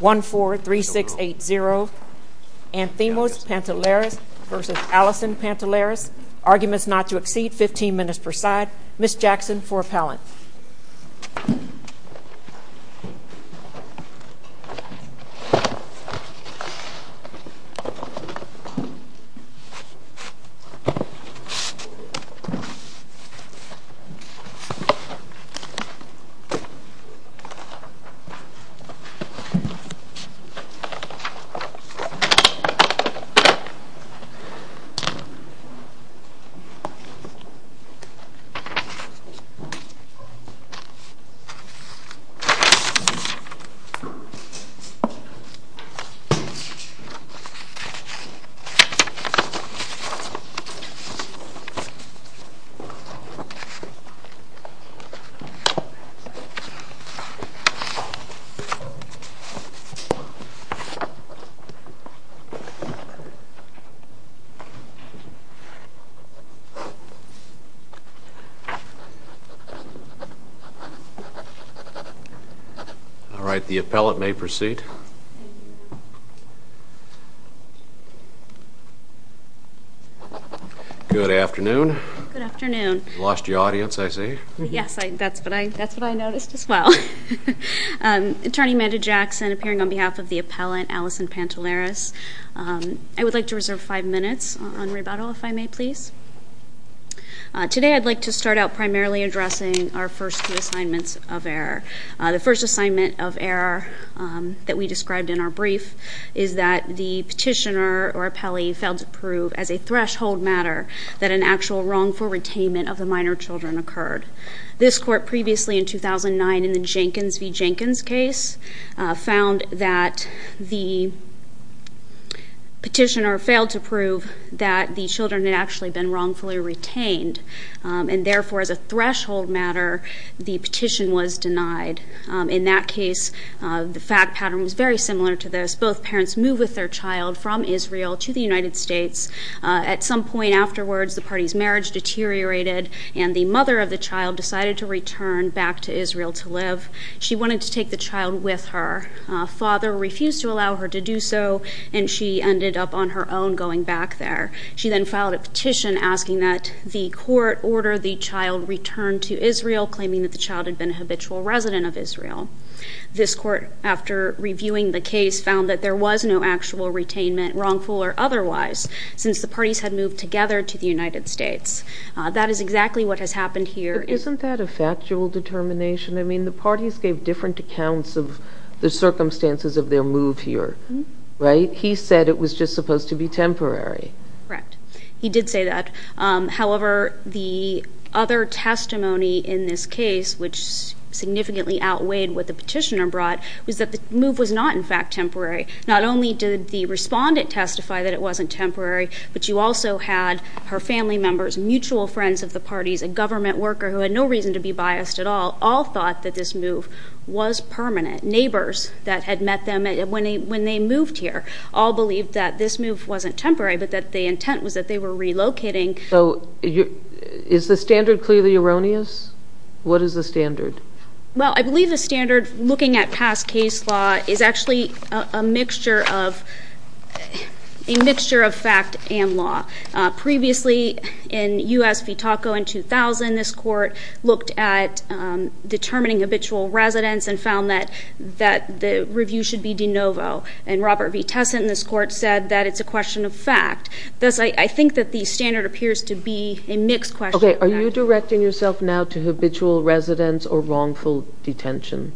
1-4-3-6-8-0 Anthemus Panteleris v. Allison Panteleris Arguments not to exceed 15 minutes per side Panteleris v. Panteleris 1-4-3-6-8-0 All right, the appellate may proceed. Good afternoon. Good afternoon. Lost your audience, I see. Yes, that's what I noticed as well. Attorney Amanda Jackson appearing on behalf of the appellant, Allison Panteleris. I would like to reserve five minutes on rebuttal, if I may please. Today I'd like to start out primarily addressing our first two assignments of error. The first assignment of error that we described in our brief is that the petitioner or appellee failed to prove as a threshold matter that an actual wrongful retainment of the minor children occurred. This court previously in 2009 in the Jenkins v. Jenkins case found that the petitioner failed to prove that the children had actually been wrongfully retained. And therefore, as a threshold matter, the petition was denied. In that case, the fact pattern was very similar to this. Both parents move with their child from Israel to the United States. At some point afterwards, the party's marriage deteriorated, and the mother of the child decided to return back to Israel to live. She wanted to take the child with her. Father refused to allow her to do so, and she ended up on her own going back there. She then filed a petition asking that the court order the child return to Israel, claiming that the child had been a habitual resident of Israel. This court, after reviewing the case, found that there was no actual retainment, wrongful or otherwise, since the parties had moved together to the United States. That is exactly what has happened here. Isn't that a factual determination? I mean, the parties gave different accounts of the circumstances of their move here, right? He said it was just supposed to be temporary. Correct. He did say that. However, the other testimony in this case, which significantly outweighed what the petitioner brought, was that the move was not, in fact, temporary. Not only did the respondent testify that it wasn't temporary, but you also had her family members, mutual friends of the parties, a government worker who had no reason to be biased at all, all thought that this move was permanent. Neighbors that had met them when they moved here all believed that this move wasn't temporary, but that the intent was that they were relocating. So is the standard clearly erroneous? What is the standard? Well, I believe the standard, looking at past case law, is actually a mixture of fact and law. Previously, in US v. TACO in 2000, this court looked at determining habitual residents and found that the review should be de novo. And Robert V. Tessin in this court said that it's a question of fact. Thus, I think that the standard appears to be a mixed question of fact. OK, are you directing yourself now to habitual residents or wrongful detention?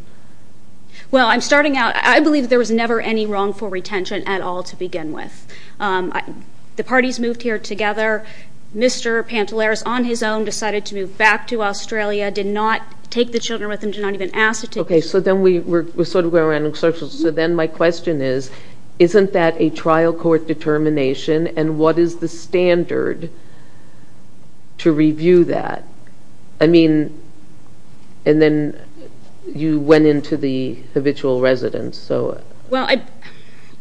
Well, I'm starting out. I believe there was never any wrongful retention at all to begin with. The parties moved here together. Mr. Pantelaris, on his own, decided to move back to Australia, did not take the children with him, did not even ask to take them. OK, so then we're sort of going around in circles. So then my question is, isn't that a trial court determination? And what is the standard to review that? I mean, and then you went into the habitual residents. Well,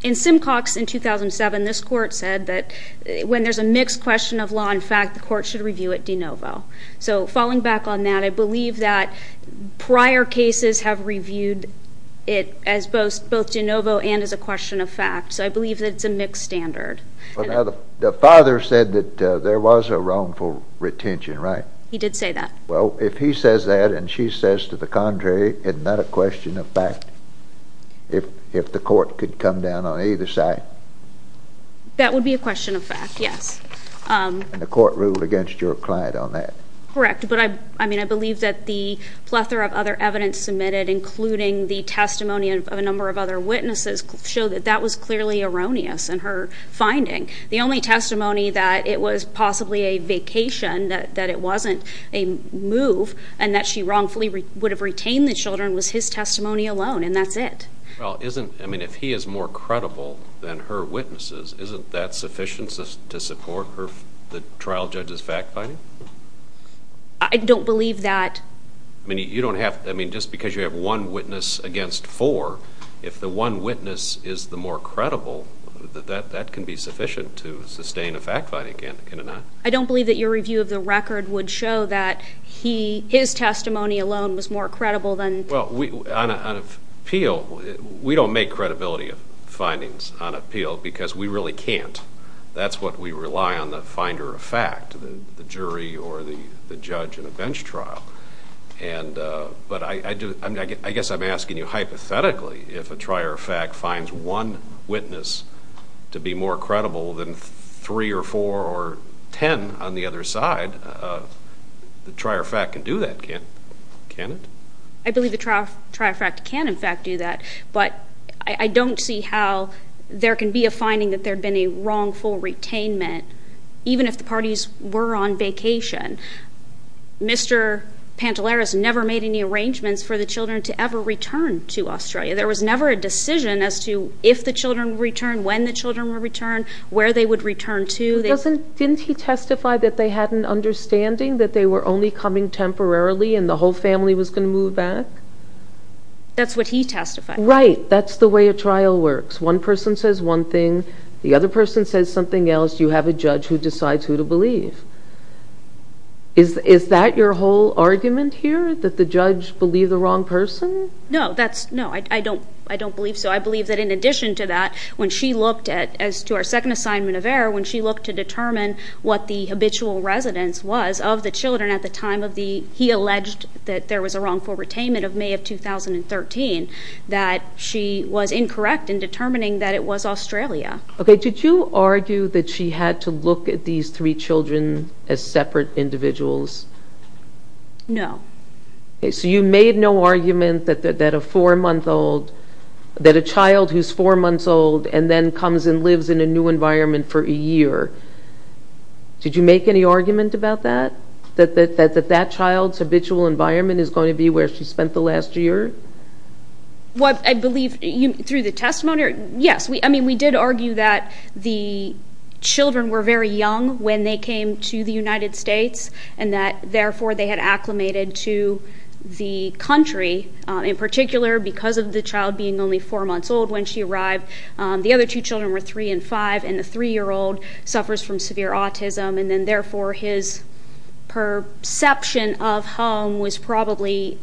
in Simcox in 2007, this court said that when there's a mixed question of law and fact, the court should review it de novo. So falling back on that, I believe that prior cases have reviewed it as both de novo and as a question of fact. So I believe that it's a mixed standard. The father said that there was a wrongful retention, right? He did say that. Well, if he says that and she says to the contrary, isn't that a question of fact, if the court could come down on either side? That would be a question of fact, yes. And the court ruled against your client on that? Correct, but I mean, I believe that the plethora of other evidence submitted, including the testimony of a number of other witnesses, show that that was clearly erroneous in her finding. The only testimony that it was possibly a vacation, that it wasn't a move, and that she wrongfully would have retained the children was his testimony alone. And that's it. Well, I mean, if he is more credible than her witnesses, isn't that sufficient to support the trial judge's fact finding? I don't believe that. I mean, just because you have one witness against four, if the one witness is the more credible, that can be sufficient to sustain a fact finding, can it not? I don't believe that your review of the record would show that his testimony alone was more credible than. Well, on appeal, we don't make credibility findings on appeal, because we really can't. That's what we rely on, the finder of fact, the jury or the judge in a bench trial. But I guess I'm asking you, hypothetically, if a trier of fact finds one witness to be more credible than three or four or 10 on the other side, the trier of fact can do that, can't it? I believe the trier of fact can, in fact, do that. But I don't see how there can be a finding that there'd been a wrongful retainment, even if the parties were on vacation. Mr. Pantelaris never made any arrangements for the children to ever return to Australia. There was never a decision as to if the children would return, when the children would return, where they would return to. Didn't he testify that they had an understanding, that they were only coming temporarily and the whole family was going to move back? That's what he testified. Right. That's the way a trial works. One person says one thing, the other person says something else. You have a judge who decides who to believe. Is that your whole argument here, that the judge believed the wrong person? No. No, I don't believe so. I believe that in addition to that, when she looked at, as to our second assignment of error, when she looked to determine what the habitual residence was of the children at the time of the, he alleged that there was a wrongful retainment of May of 2013, that she was incorrect in determining that it was Australia. OK, did you argue that she had to look at these three children as separate individuals? No. So you made no argument that a four-month-old, that a child who's four months old and then comes and lives in a new environment for a year, did you make any argument about that? That that child's habitual environment is going to be where she spent the last year? Well, I believe through the testimony, yes. I mean, we did argue that the children were very young when they came to the United States and that, therefore, they had acclimated to the country. In particular, because of the child being only four months old when she arrived, the other two children were three and five. And the three-year-old suffers from severe autism. And then, therefore, his perception of home was probably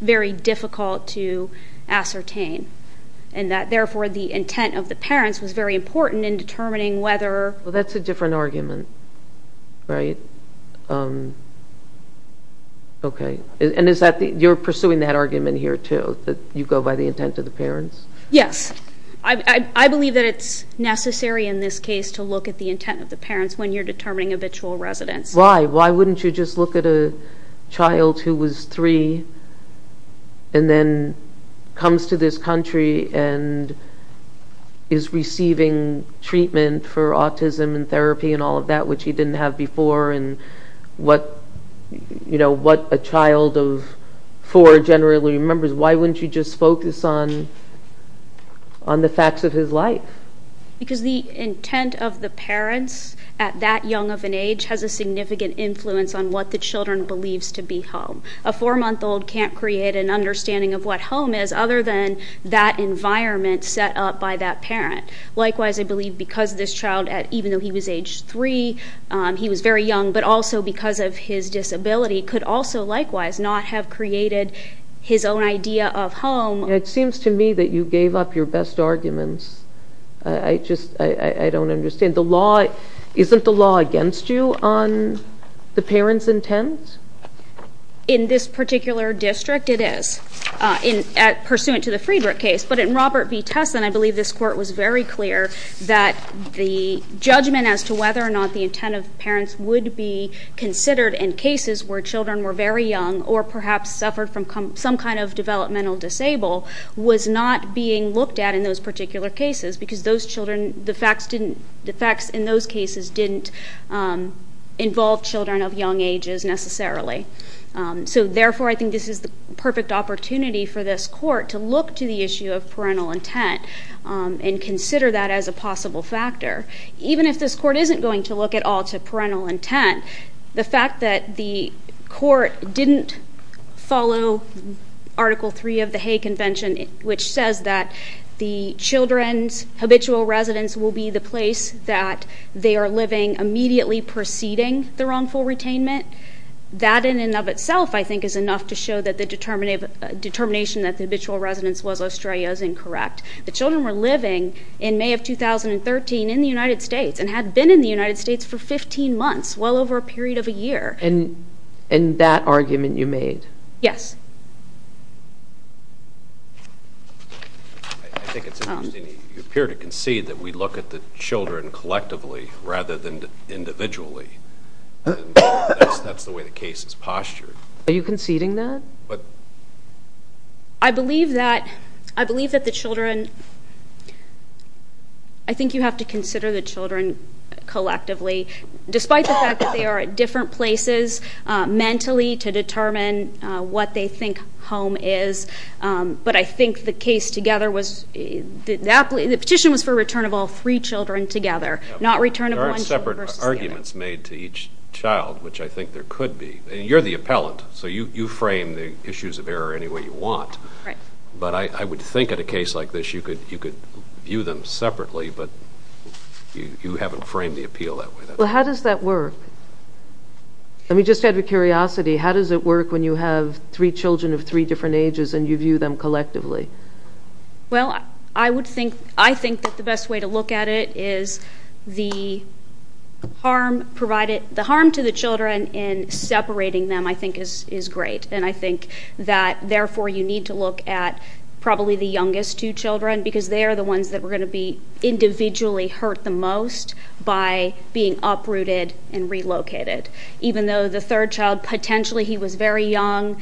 very difficult to ascertain. And that, therefore, the intent of the parents was very important in determining whether. Well, that's a different argument, right? OK. And is that the, you're pursuing that argument here, too? That you go by the intent of the parents? Yes. I believe that it's necessary in this case to look at the intent of the parents when you're determining habitual residence. Why? Why wouldn't you just look at a child who was three and then comes to this country and is receiving treatment for autism and therapy and all of that, which he didn't have before and what a child of four generally remembers? Why wouldn't you just focus on the facts of his life? Because the intent of the parents at that young of an age has a significant influence on what the children believes to be home. A four-month-old can't create an understanding of what home is other than that environment set up by that parent. Likewise, I believe because this child, even though he was age three, he was very young, but also because of his disability, could also likewise not have created his own idea of home. It seems to me that you gave up your best arguments. I just, I don't understand. The law, isn't the law against you on the parents' intent? In this particular district, it is, pursuant to the Friedrich case. But in Robert v. Tessin, I believe this court was very clear that the judgment as to whether or not the intent of parents would be considered in cases where children were very young or perhaps suffered from some kind of developmental disable was not being looked at in those particular cases because the facts in those cases didn't involve children of young ages necessarily. So therefore, I think this is the perfect opportunity for this court to look to the issue of parental intent and consider that as a possible factor. Even if this court isn't going to look at all to parental intent, the fact that the court didn't follow Article 3 of the Hay Convention, which says that the children's habitual residence will be the place that they are living immediately preceding the wrongful retainment, that in and of itself, I think, is enough to show that the determination that the habitual residence was Australia is incorrect. The children were living, in May of 2013, in the United States and had been in the United States for 15 months, well over a period of a year. And that argument you made? Yes. I think it's interesting. You appear to concede that we look at the children collectively rather than individually. And that's the way the case is postured. Are you conceding that? I believe that the children, I think you have to consider the children collectively, despite the fact that they are at different places mentally to determine what they think home is. But I think the case together was, the petition was for return of all three children together, not return of one child versus the other. There were separate arguments made to each child, which I think there could be. And you're the appellant, so you frame the issues of error any way you want. But I would think at a case like this, you could view them separately, but you haven't framed the appeal that way. Well, how does that work? Let me just add with curiosity, how does it work when you have three children of three different ages and you view them collectively? Well, I think that the best way to look at it is the harm provided, the harm to the children in separating them, I think, is great. And I think that, therefore, you need to look at probably the youngest two children, because they are the ones that were going to be individually hurt the most by being uprooted and relocated. Even though the third child, potentially he was very young,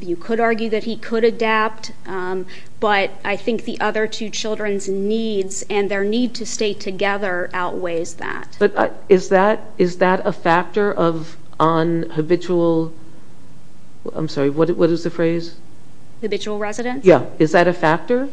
you could argue that he could adapt. But I think the other two children's needs and their need to stay together outweighs that. But is that a factor of unhabitual? I'm sorry, what is the phrase? Habitual residence? Yeah, is that a factor?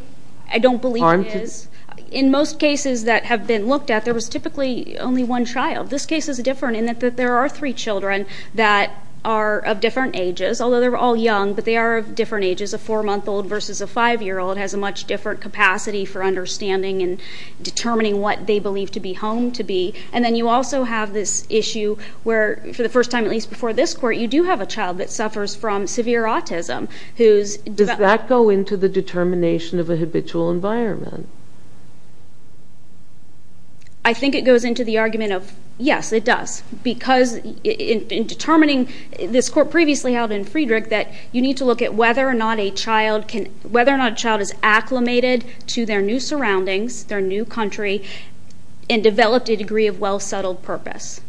I don't believe it is. In most cases that have been looked at, there was typically only one child. This case is different in that there are three children that are of different ages, although they're all young, but they are of different ages. A four-month-old versus a five-year-old has a much different capacity for understanding and determining what they believe to be home to be. And then you also have this issue where, for the first time at least before this court, you do have a child that suffers from severe autism who's Does that go into the determination of a habitual environment? I think it goes into the argument of, yes, it does. Because in determining, this court previously held in Friedrich, that you need to look at whether or not a child is acclimated to their new surroundings, their new country, and developed a degree of well-settled purpose.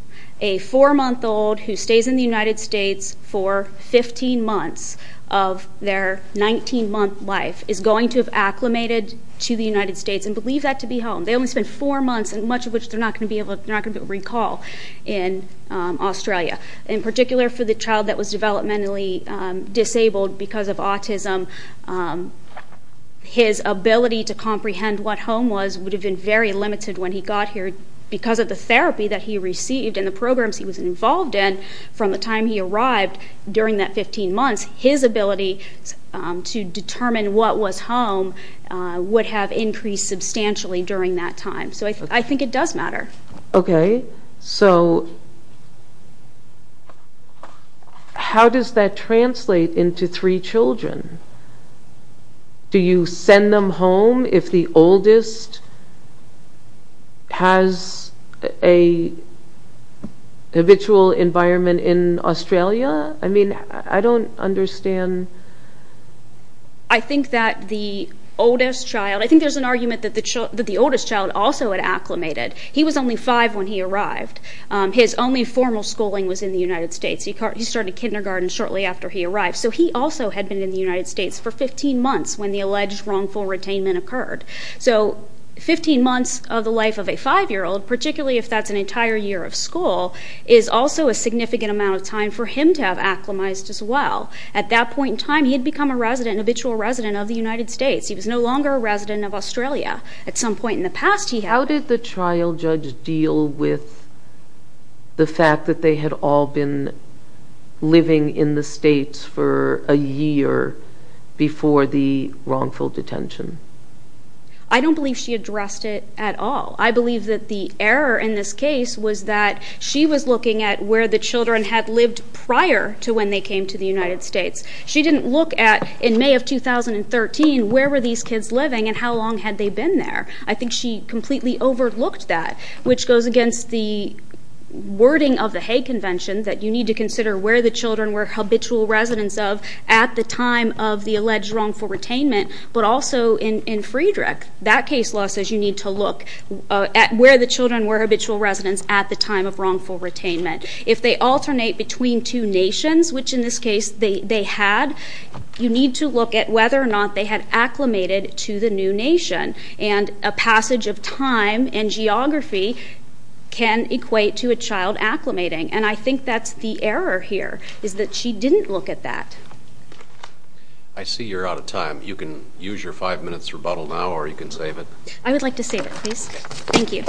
A four-month-old who stays in the United States for 15 months of their 19-month life is going to have acclimated to the United States and believe that to be home. They only spent four months, and much of which they're not going to be able to recall in Australia. In particular, for the child that was developmentally disabled because of autism, his ability to comprehend what home was would have been very limited when he got here. Because of the therapy that he received and the programs he was involved in from the time he arrived during that 15 months, his ability to determine what was home would have increased substantially during that time. So I think it does matter. OK, so how does that translate into three children? Do you send them home if the oldest has a habitual environment in Australia? I mean, I don't understand. I think that the oldest child, I think there's an argument that the oldest child also had acclimated. He was only five when he arrived. His only formal schooling was in the United States. He started kindergarten shortly after he arrived. So he also had been in the United States for 15 months when the alleged wrongful retainment occurred. So 15 months of the life of a five-year-old, particularly if that's an entire year of school, is also a significant amount of time for him to have acclimated as well. At that point in time, he had become a resident, a habitual resident of the United States. He was no longer a resident of Australia. At some point in the past, he had. How did the trial judge deal with the fact that they had all been living in the States for a year before the wrongful detention? I don't believe she addressed it at all. I believe that the error in this case was that she was looking at where the children had lived prior to when they came to the United States. She didn't look at, in May of 2013, where were these kids living and how long had they been there? I think she completely overlooked that, which goes against the wording of the Hague Convention that you need to consider where the children were habitual residents of at the time of the alleged wrongful retainment. But also in Friedrich, that case law says you need to look at where the children were habitual residents at the time of wrongful retainment. If they alternate between two nations, which in this case, they had, you need to look at whether or not they had acclimated to the new nation. And a passage of time and geography can equate to a child acclimating. And I think that's the error here, is that she didn't look at that. I see you're out of time. You can use your five minutes rebuttal now, or you can save it. I would like to save it, please. Thank you.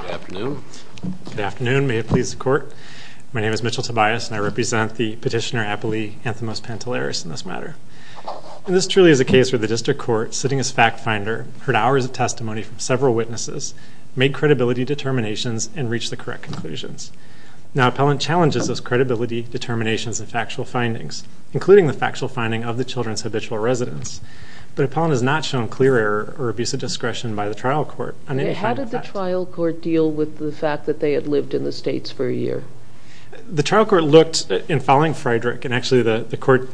Good afternoon. Good afternoon. May it please the court. My name is Mitchell Tobias, and I represent the petitioner, Apolli Anthimus Pantelaris, in this matter. And this truly is a case where the district court, sitting as fact finder, heard hours of testimony from several witnesses, made credibility determinations, and reached the correct conclusions. Now, appellant challenges those credibility determinations and factual findings, including the factual finding of the children's habitual residence. But appellant has not shown clear error or abusive discretion by the trial court on any finding of fact. How did the trial court deal with the fact that they had lived in the states for a year? The trial court looked, in following Friedrich, and actually the court,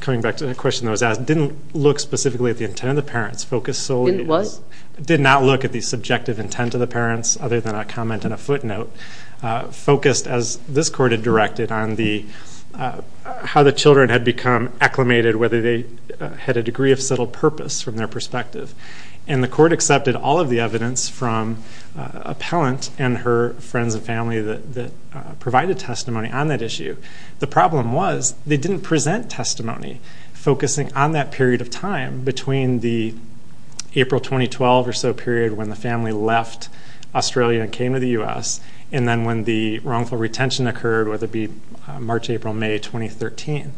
coming back to a question that was asked, didn't look specifically at the intent of the parents, focused solely on this. Did not look at the subjective intent of the parents, other than a comment and a footnote. Focused, as this court had directed, on how the children had become acclimated, whether they had a degree of subtle purpose from their perspective. And the court accepted all of the evidence from appellant and her friends and family that provided testimony on that issue. The problem was, they didn't present testimony focusing on that period of time between the April 2012 or so period when the family left Australia and came to the US. And then when the wrongful retention occurred, whether it be March, April, May 2013.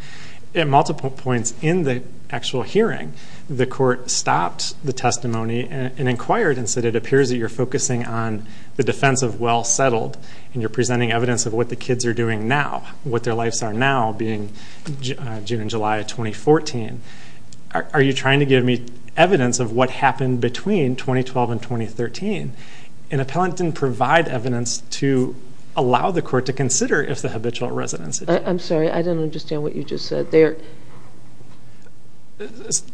At multiple points in the actual hearing, the court stopped the testimony and inquired and said, it appears that you're focusing on the defense of well settled. And you're presenting evidence of what the kids are doing now. What their lives are now, being June and July of 2014. Are you trying to give me evidence of what happened between 2012 and 2013? And appellant didn't provide evidence to allow the court to consider if the habitual residence. I'm sorry, I don't understand what you just said.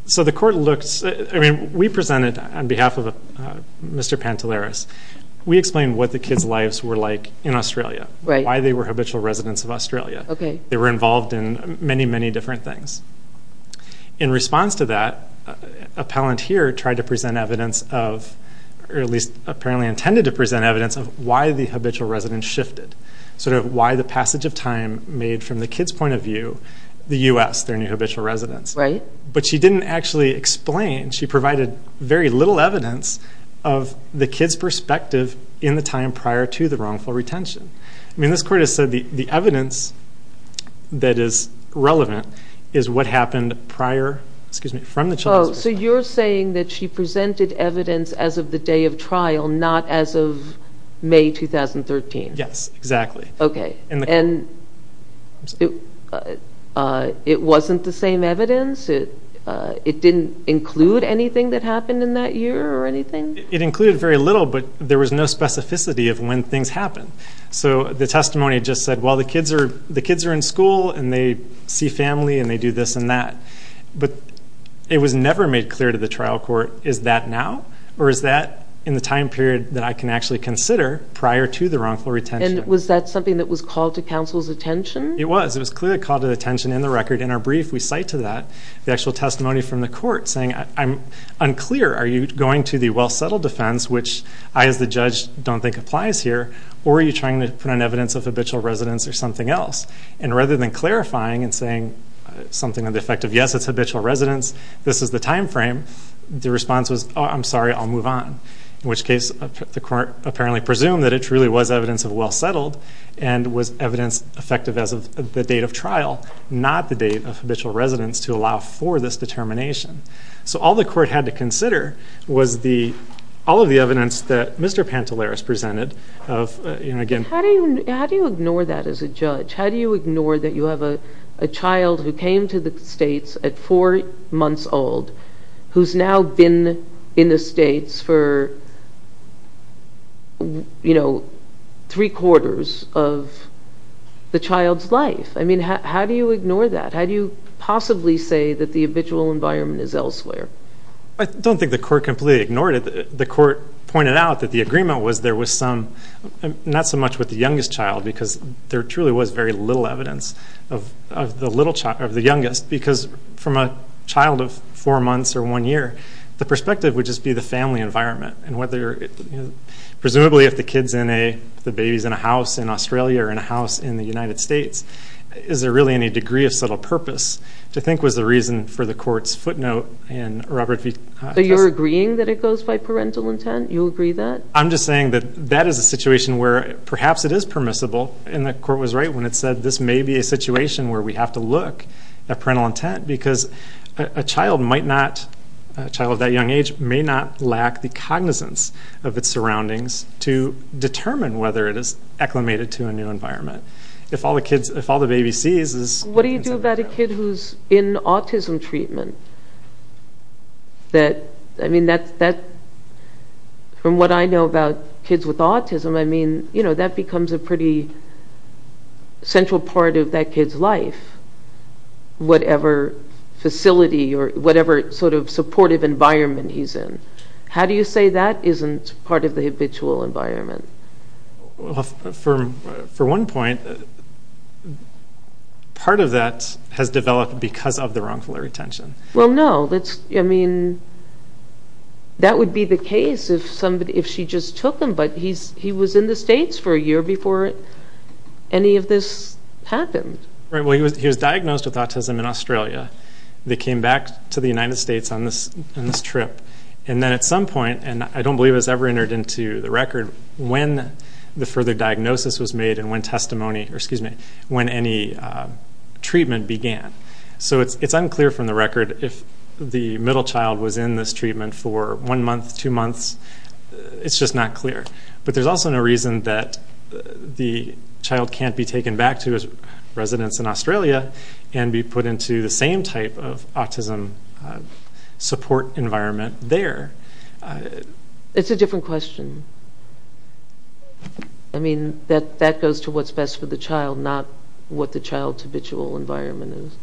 So the court looks, I mean, we presented on behalf of Mr. Pantelaris, we explained what the kids' lives were like in Australia. Why they were habitual residents of Australia. They were involved in many, many different things. In response to that, appellant here tried to present evidence of, or at least apparently intended to present evidence of why the habitual residence shifted. Sort of why the passage of time made from the kid's point of view, the US, their new habitual residence. But she didn't actually explain. She provided very little evidence of the kid's perspective in the time prior to the wrongful retention. I mean, this court has said the evidence that is relevant is what happened prior, excuse me, from the child's perspective. So you're saying that she presented evidence as of the day of trial, not as of May 2013? Yes, exactly. Okay, and it wasn't the same evidence? It didn't include anything that happened in that year or anything? It included very little, but there was no specificity of when things happened. So the testimony just said, well, the kids are in school and they see family and they do this and that. But it was never made clear to the trial court, is that now? Or is that in the time period that I can actually consider prior to the wrongful retention? And was that something that was called to counsel's attention? It was, it was clearly called to attention in the record. In our brief, we cite to that the actual testimony from the court saying, I'm unclear. Are you going to the well-settled defense, which I as the judge don't think applies here, or are you trying to put on evidence of habitual residence or something else? And rather than clarifying and saying something on the effect of, yes, it's habitual residence, this is the timeframe, the response was, oh, I'm sorry, I'll move on. In which case, the court apparently presumed that it truly was evidence of well-settled and was evidence effective as of the date of trial, not the date of habitual residence to allow for this determination. So all the court had to consider was the, all of the evidence that Mr. Pantelaris presented of, you know, again. How do you ignore that as a judge? How do you ignore that you have a child who came to the States at four months old, who's now been in the States for, you know, three quarters of the child's life? I mean, how do you ignore that? How do you possibly say that the habitual environment is elsewhere? I don't think the court completely ignored it. The court pointed out that the agreement was there was some, not so much with the youngest child, because there truly was very little evidence of the youngest. Because from a child of four months or one year, the perspective would just be the family environment. And whether, presumably if the kid's in a, the baby's in a house in Australia or in a house in the United States, is there really any degree of subtle purpose to think was the reason for the court's footnote in Robert V. So you're agreeing that it goes by parental intent? You agree that? I'm just saying that that is a situation where perhaps it is permissible. And the court was right when it said this may be a situation where we have to look at parental intent, because a child might not, a child of that young age may not lack the cognizance of its surroundings to determine whether it is acclimated to a new environment. If all the kids, if all the baby sees is- What do you do about a kid who's in autism treatment? That, I mean, that, from what I know about kids with autism, I mean, you know, that becomes a pretty central part of that kid's life, whatever facility or whatever sort of supportive environment he's in. How do you say that isn't part of the habitual environment? For one point, part of that has developed because of the wrongful retention. Well, no, that's, I mean, that would be the case if somebody, if she just took him, but he was in the States for a year before any of this happened. Right, well, he was diagnosed with autism in Australia. They came back to the United States on this trip. And then at some point, and I don't believe it was ever entered into the record, when the further diagnosis was made and when testimony, or excuse me, when any treatment began. So it's unclear from the record if the middle child was in this treatment for one month, two months, it's just not clear. But there's also no reason that the child can't be taken back to his residence in Australia and be put into the same type of autism support environment there. It's a different question. I mean, that goes to what's best for the child, not what the child's habitual environment is.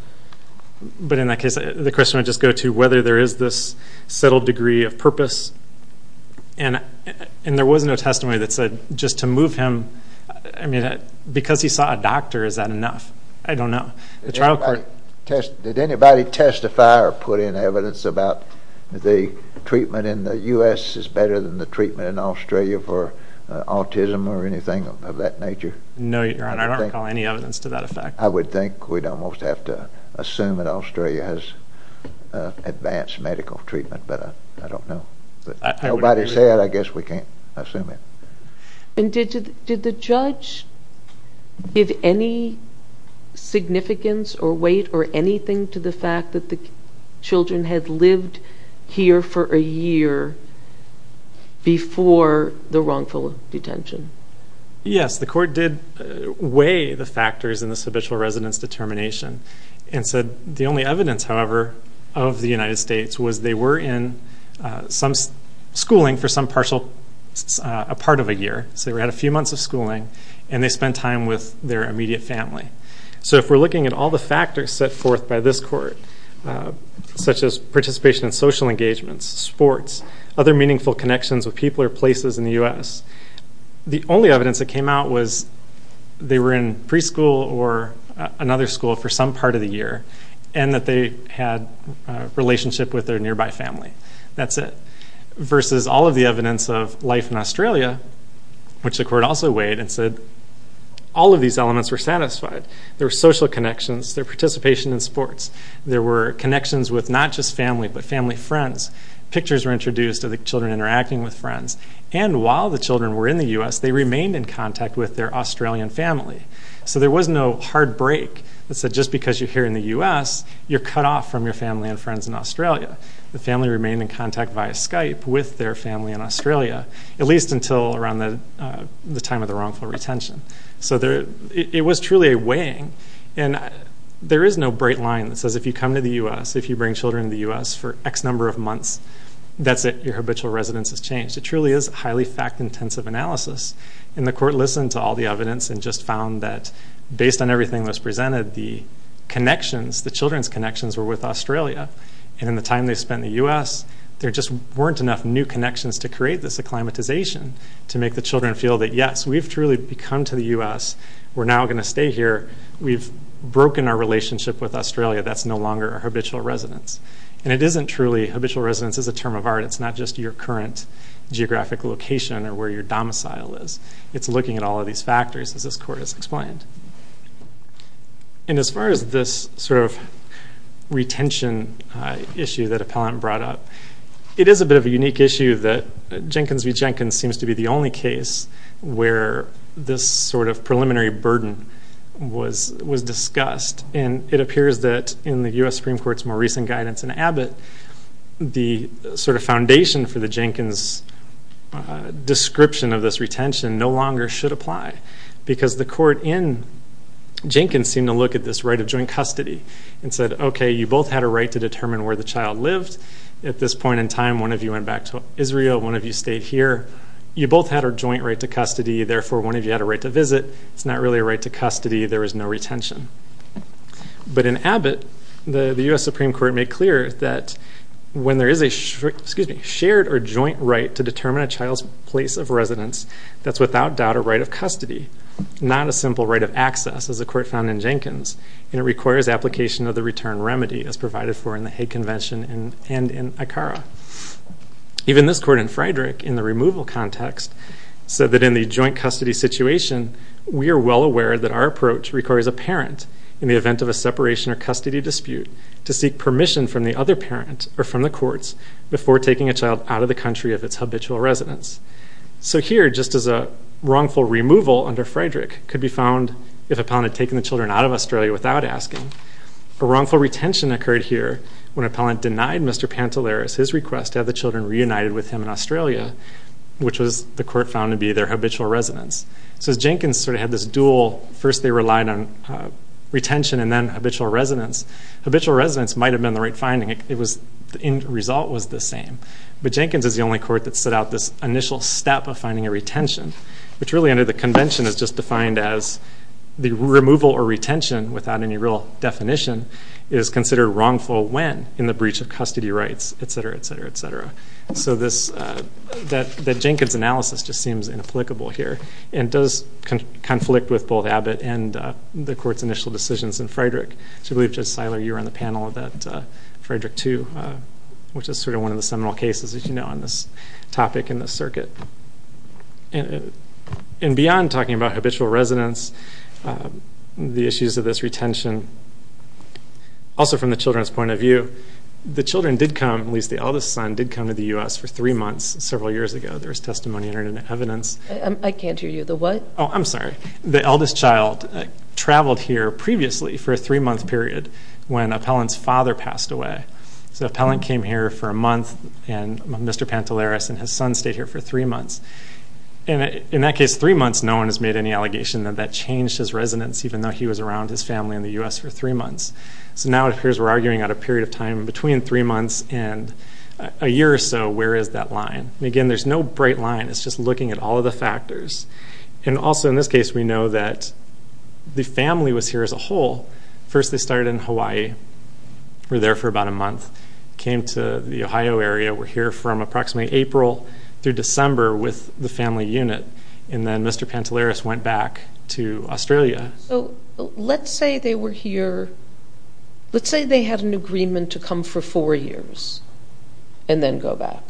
But in that case, the question I just go to, whether there is this settled degree of purpose. And there was no testimony that said, just to move him, I mean, because he saw a doctor, is that enough? I don't know. The trial court. Did anybody testify or put in evidence about the treatment in the U.S. is better than the treatment in Australia for autism or anything of that nature? No, Your Honor, I don't recall any evidence to that effect. I would think we'd almost have to assume that Australia has advanced medical treatment, but I don't know. But nobody said, I guess we can't assume it. And did the judge give any significance or weight or anything to the fact that the children had lived here for a year before the wrongful detention? Yes, the court did weigh the factors in this habitual residence determination and said the only evidence, however, of the United States was they were in some schooling for some partial, a part of a year. So they were at a few months of schooling and they spent time with their immediate family. So if we're looking at all the factors set forth by this court, such as participation in social engagements, sports, other meaningful connections with people or places in the U.S., the only evidence that came out was they were in preschool or another school for some part of the year and that they had a relationship with their nearby family. That's it. Versus all of the evidence of life in Australia, which the court also weighed and said all of these elements were satisfied. There were social connections, there were participation in sports, there were connections with not just family but family friends, pictures were introduced of the children interacting with friends, and while the children were in the U.S., they remained in contact with their Australian family. So there was no hard break that said just because you're here in the U.S., you're cut off from your family and friends in Australia. The family remained in contact via Skype with their family in Australia, at least until around the time of the wrongful retention. So it was truly a weighing and there is no bright line that says if you come to the U.S., if you bring children to the U.S. for X number of months, that's it, your habitual residence has changed. It truly is highly fact-intensive analysis and the court listened to all the evidence and just found that based on everything that was presented, the connections, the children's connections were with Australia and in the time they spent in the U.S., there just weren't enough new connections to create this acclimatization to make the children feel that yes, we've truly come to the U.S., we're now gonna stay here, we've broken our relationship with Australia, that's no longer a habitual residence and it isn't truly, habitual residence is a term of art, it's not just your current geographic location or where your domicile is, it's looking at all of these factors as this court has explained. And as far as this sort of retention issue that appellant brought up, it is a bit of a unique issue that Jenkins v. Jenkins seems to be the only case where this sort of preliminary burden was discussed and it appears that in the U.S. Supreme Court's more recent guidance in Abbott, the sort of foundation for the Jenkins description of this retention no longer should apply because the court in Jenkins seemed to look at this right of joint custody and said, okay, you both had a right to determine where the child lived, at this point in time, one of you went back to Israel, one of you stayed here, you both had a joint right to custody, therefore one of you had a right to visit, it's not really a right to custody, there is no retention. But in Abbott, the U.S. Supreme Court made clear that when there is a shared or joint right to determine a child's place of residence, that's without doubt a right of custody, not a simple right of access as a court found in Jenkins as provided for in the Hague Convention and in ICARA. Even this court in Friedrich in the removal context said that in the joint custody situation, we are well aware that our approach requires a parent in the event of a separation or custody dispute to seek permission from the other parent or from the courts before taking a child out of the country of its habitual residence. So here, just as a wrongful removal under Friedrich could be found if a parent had taken the children out of Australia without asking, a wrongful retention occurred here when a parent denied Mr. Pantelaris his request to have the children reunited with him in Australia, which was the court found to be their habitual residence. So as Jenkins sort of had this dual, first they relied on retention and then habitual residence. Habitual residence might've been the right finding, it was, the end result was the same. But Jenkins is the only court that set out this initial step of finding a retention, which really under the convention is just defined as the removal or retention without any real definition is considered wrongful when in the breach of custody rights, et cetera, et cetera, et cetera. So this, that Jenkins' analysis just seems inapplicable here and does conflict with both Abbott and the court's initial decisions in Friedrich. So I believe Judge Seiler, you were on the panel of that Friedrich II, which is sort of one of the seminal cases, as you know, on this topic in the circuit. And beyond talking about habitual residence, the issues of this retention, and also from the children's point of view, the children did come, at least the eldest son, did come to the U.S. for three months several years ago. There was testimony in it and evidence. I can't hear you, the what? Oh, I'm sorry. The eldest child traveled here previously for a three-month period when Appellant's father passed away. So Appellant came here for a month, and Mr. Pantelaris and his son stayed here for three months. And in that case, three months, no one has made any allegation that that changed his residence, even though he was around his family in the U.S. for three months. So now it appears we're arguing at a period of time between three months and a year or so, where is that line? And again, there's no bright line. It's just looking at all of the factors. And also in this case, we know that the family was here as a whole. First, they started in Hawaii, were there for about a month, came to the Ohio area, were here from approximately April through December with the family unit. And then Mr. Pantelaris went back to Australia. Let's say they were here, let's say they had an agreement to come for four years and then go back.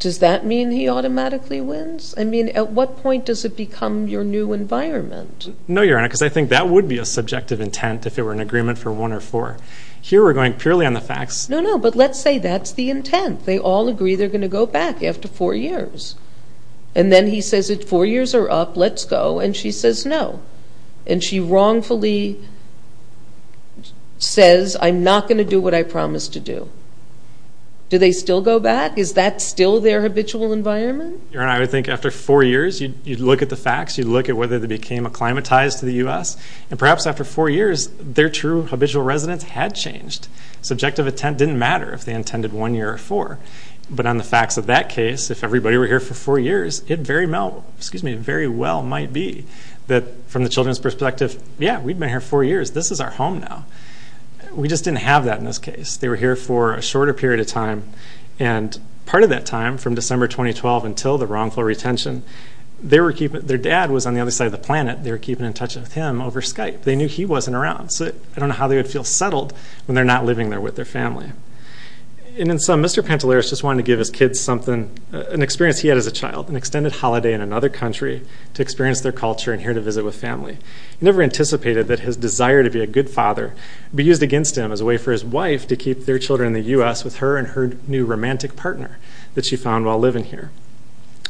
Does that mean he automatically wins? I mean, at what point does it become your new environment? No, Your Honor, because I think that would be a subjective intent if it were an agreement for one or four. Here we're going purely on the facts. No, no, but let's say that's the intent. They all agree they're going to go back after four years. And then he says, four years are up, let's go. And she says, no. And she wrongfully says, I'm not going to do what I promised to do. Do they still go back? Is that still their habitual environment? Your Honor, I would think after four years, you'd look at the facts, you'd look at whether they became acclimatized to the U.S. And perhaps after four years, their true habitual residence had changed. Subjective intent didn't matter if they intended one year or four. But on the facts of that case, if everybody were here for four years, it very well might be that from the children's perspective, yeah, we've been here four years. This is our home now. We just didn't have that in this case. They were here for a shorter period of time. And part of that time from December 2012 until the wrongful retention, their dad was on the other side of the planet. They were keeping in touch with him over Skype. They knew he wasn't around. So I don't know how they would feel settled when they're not living there with their family. And in some, Mr. Pantelaris just wanted to give his kids an experience he had as a child, an extended holiday in another country to experience their culture and here to visit with family. He never anticipated that his desire to be a good father be used against him as a way for his wife to keep their children in the U.S. with her and her new romantic partner that she found while living here.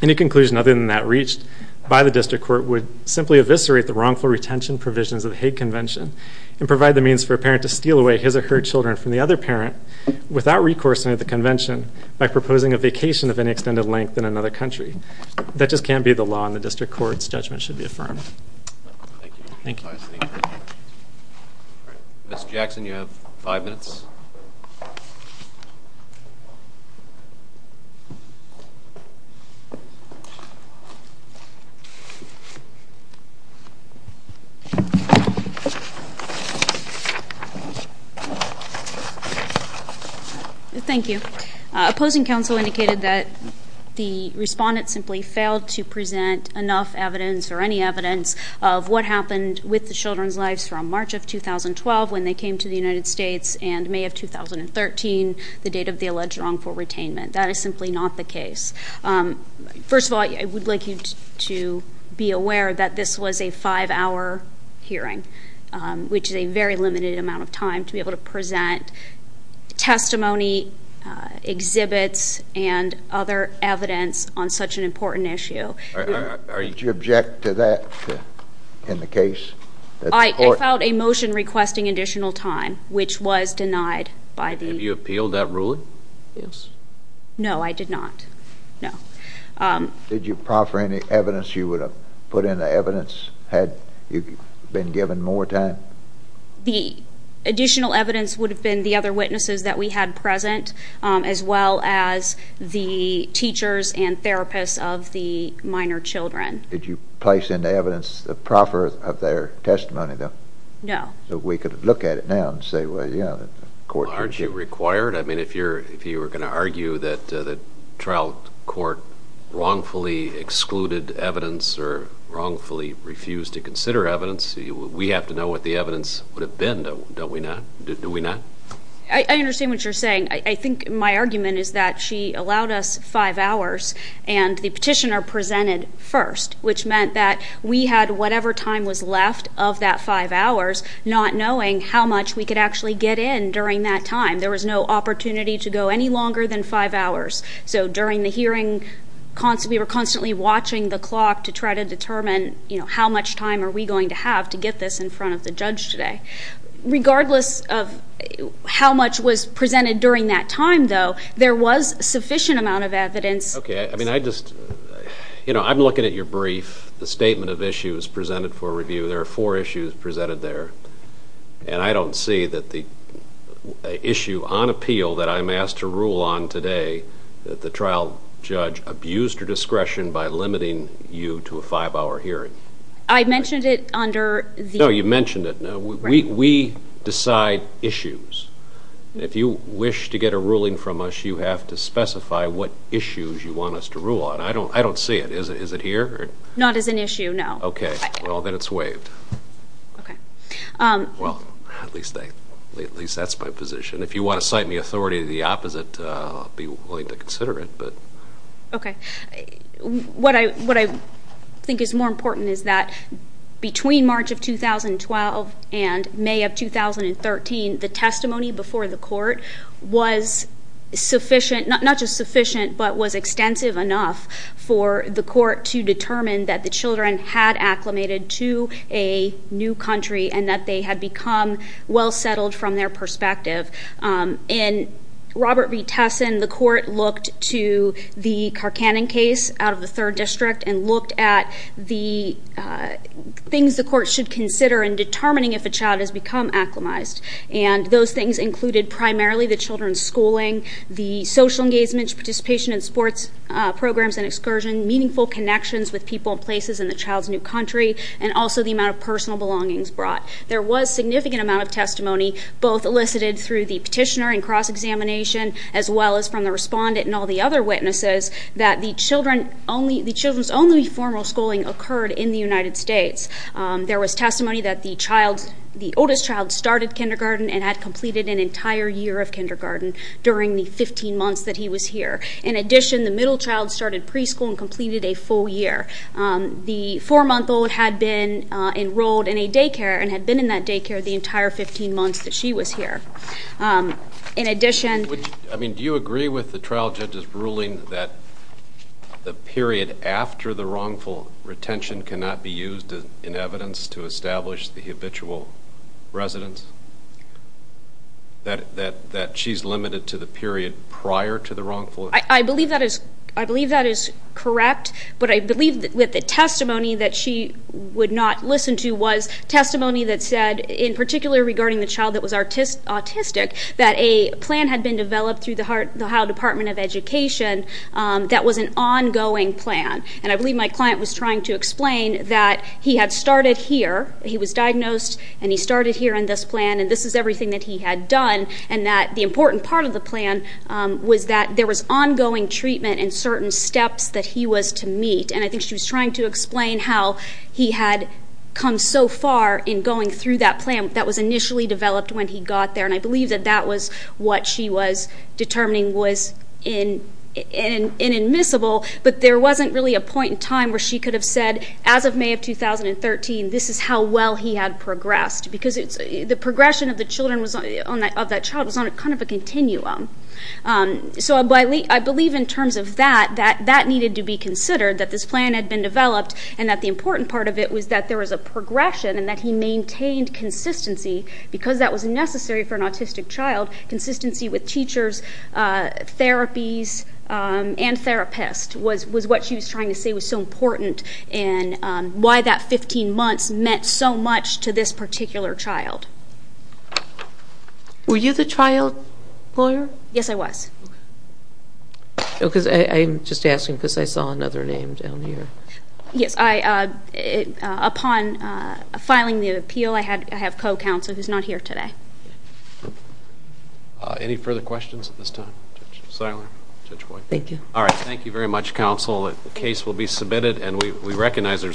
Any conclusion other than that reached by the district court would simply eviscerate the wrongful retention provisions of the Hague Convention and provide the means for a parent to steal away his or her children from the other parent without recourse and at the convention by proposing a vacation of any extended length in another country. That just can't be the law in the district courts. Judgment should be affirmed. Thank you. Mr. Jackson, you have five minutes. Thank you. Opposing counsel indicated that the respondent simply failed to present enough evidence or any evidence of what happened with the children's lives from March of 2012 when they came to the United States and May of 2013, the date of the alleged wrongful retainment. That is simply not the case. First of all, I would like you to be aware that this was a five-hour hearing, which is a very limited amount of time to be able to present testimony, exhibits, and other evidence on such an important issue. Did you object to that in the case? I filed a motion requesting additional time, which was denied by the- Have you appealed that ruling? Yes. No, I did not. No. Did you proffer any evidence you would have put in the evidence had you been given more time? The additional evidence would have been the other witnesses that we had present, as well as the teachers and therapists of the minor children. Did you place in the evidence the proffer of their testimony, though? No. So we could look at it now and say, well, you know, the court- Aren't you required? I mean, if you were going to argue that the trial court wrongfully excluded evidence or wrongfully refused to consider evidence, we have to know what the evidence would have been, don't we not? Do we not? I understand what you're saying. I think my argument is that she allowed us five hours and the petitioner presented first, which meant that we had whatever time was left of that five hours not knowing how much we could actually get in during that time. There was no opportunity to go any longer than five hours. So during the hearing, we were constantly watching the clock to try to determine, you know, how much time are we going to have to get this in front of the judge today. Regardless of how much was presented during that time, though, there was sufficient amount of evidence- Okay, I mean, I just- You know, I'm looking at your brief, the statement of issues presented for review. There are four issues presented there. And I don't see that the issue on appeal that I'm asked to rule on today, that the trial judge abused her discretion by limiting you to a five-hour hearing. I mentioned it under the- No, you mentioned it. We decide issues. If you wish to get a ruling from us, you have to specify what issues you want us to rule on. I don't see it. Is it here? Not as an issue, no. Okay, well, then it's waived. Okay. Well, at least that's my position. If you want to cite me authority of the opposite, I'll be willing to consider it. Okay. What I think is more important is that between March of 2012 and May of 2013, the testimony before the court was sufficient, not just sufficient, but was extensive enough for the court to determine that the children had acclimated to a new country and that they had become well-settled from their perspective. In Robert v. Tesson, the court looked to the Carcannon case out of the third district and looked at the things the court should consider in determining if a child has become acclimized. And those things included primarily the children's schooling, the social engagement, participation in sports programs and excursion, meaningful connections with people and places in the child's new country, and also the amount of personal belongings brought. There was significant amount of testimony both elicited through the petitioner and cross-examination as well as from the respondent and all the other witnesses that the children's only formal schooling occurred in the United States. There was testimony that the oldest child started kindergarten and had completed an entire year of kindergarten during the 15 months that he was here. In addition, the middle child started preschool and completed a full year. The four-month-old had been enrolled in a daycare and had been in that daycare the entire 15 months that she was here. In addition... I mean, do you agree with the trial judge's ruling that the period after the wrongful retention cannot be used in evidence to establish the habitual residence? That she's limited to the period prior to the wrongful... I believe that is correct, but I believe that the testimony that she would not listen to was testimony that said, in particular regarding the child that was autistic, that a plan had been developed through the Ohio Department of Education that was an ongoing plan. And I believe my client was trying to explain that he had started here. He was diagnosed and he started here in this plan and this is everything that he had done and that the important part of the plan was that there was ongoing treatment in certain steps that he was to meet. And I think she was trying to explain how he had come so far in going through that plan that was initially developed when he got there. And I believe that that was what she was determining was inadmissible, but there wasn't really a point in time where she could have said, as of May of 2013, this is how well he had progressed because the progression of that child was on kind of a continuum. So I believe in terms of that, that that needed to be considered, that this plan had been developed and that the important part of it was that there was a progression and that he maintained consistency because that was necessary for an autistic child, consistency with teachers, therapies, and therapists was what she was trying to say was so important and why that 15 months meant so much to this particular child. Were you the child lawyer? Yes, I was. Oh, because I'm just asking because I saw another name down here. Yes, upon filing the appeal, I have co-counsel who's not here today. Any further questions at this time? Silent, Judge White. Thank you. All right, thank you very much, counsel. The case will be submitted and we recognize there's a...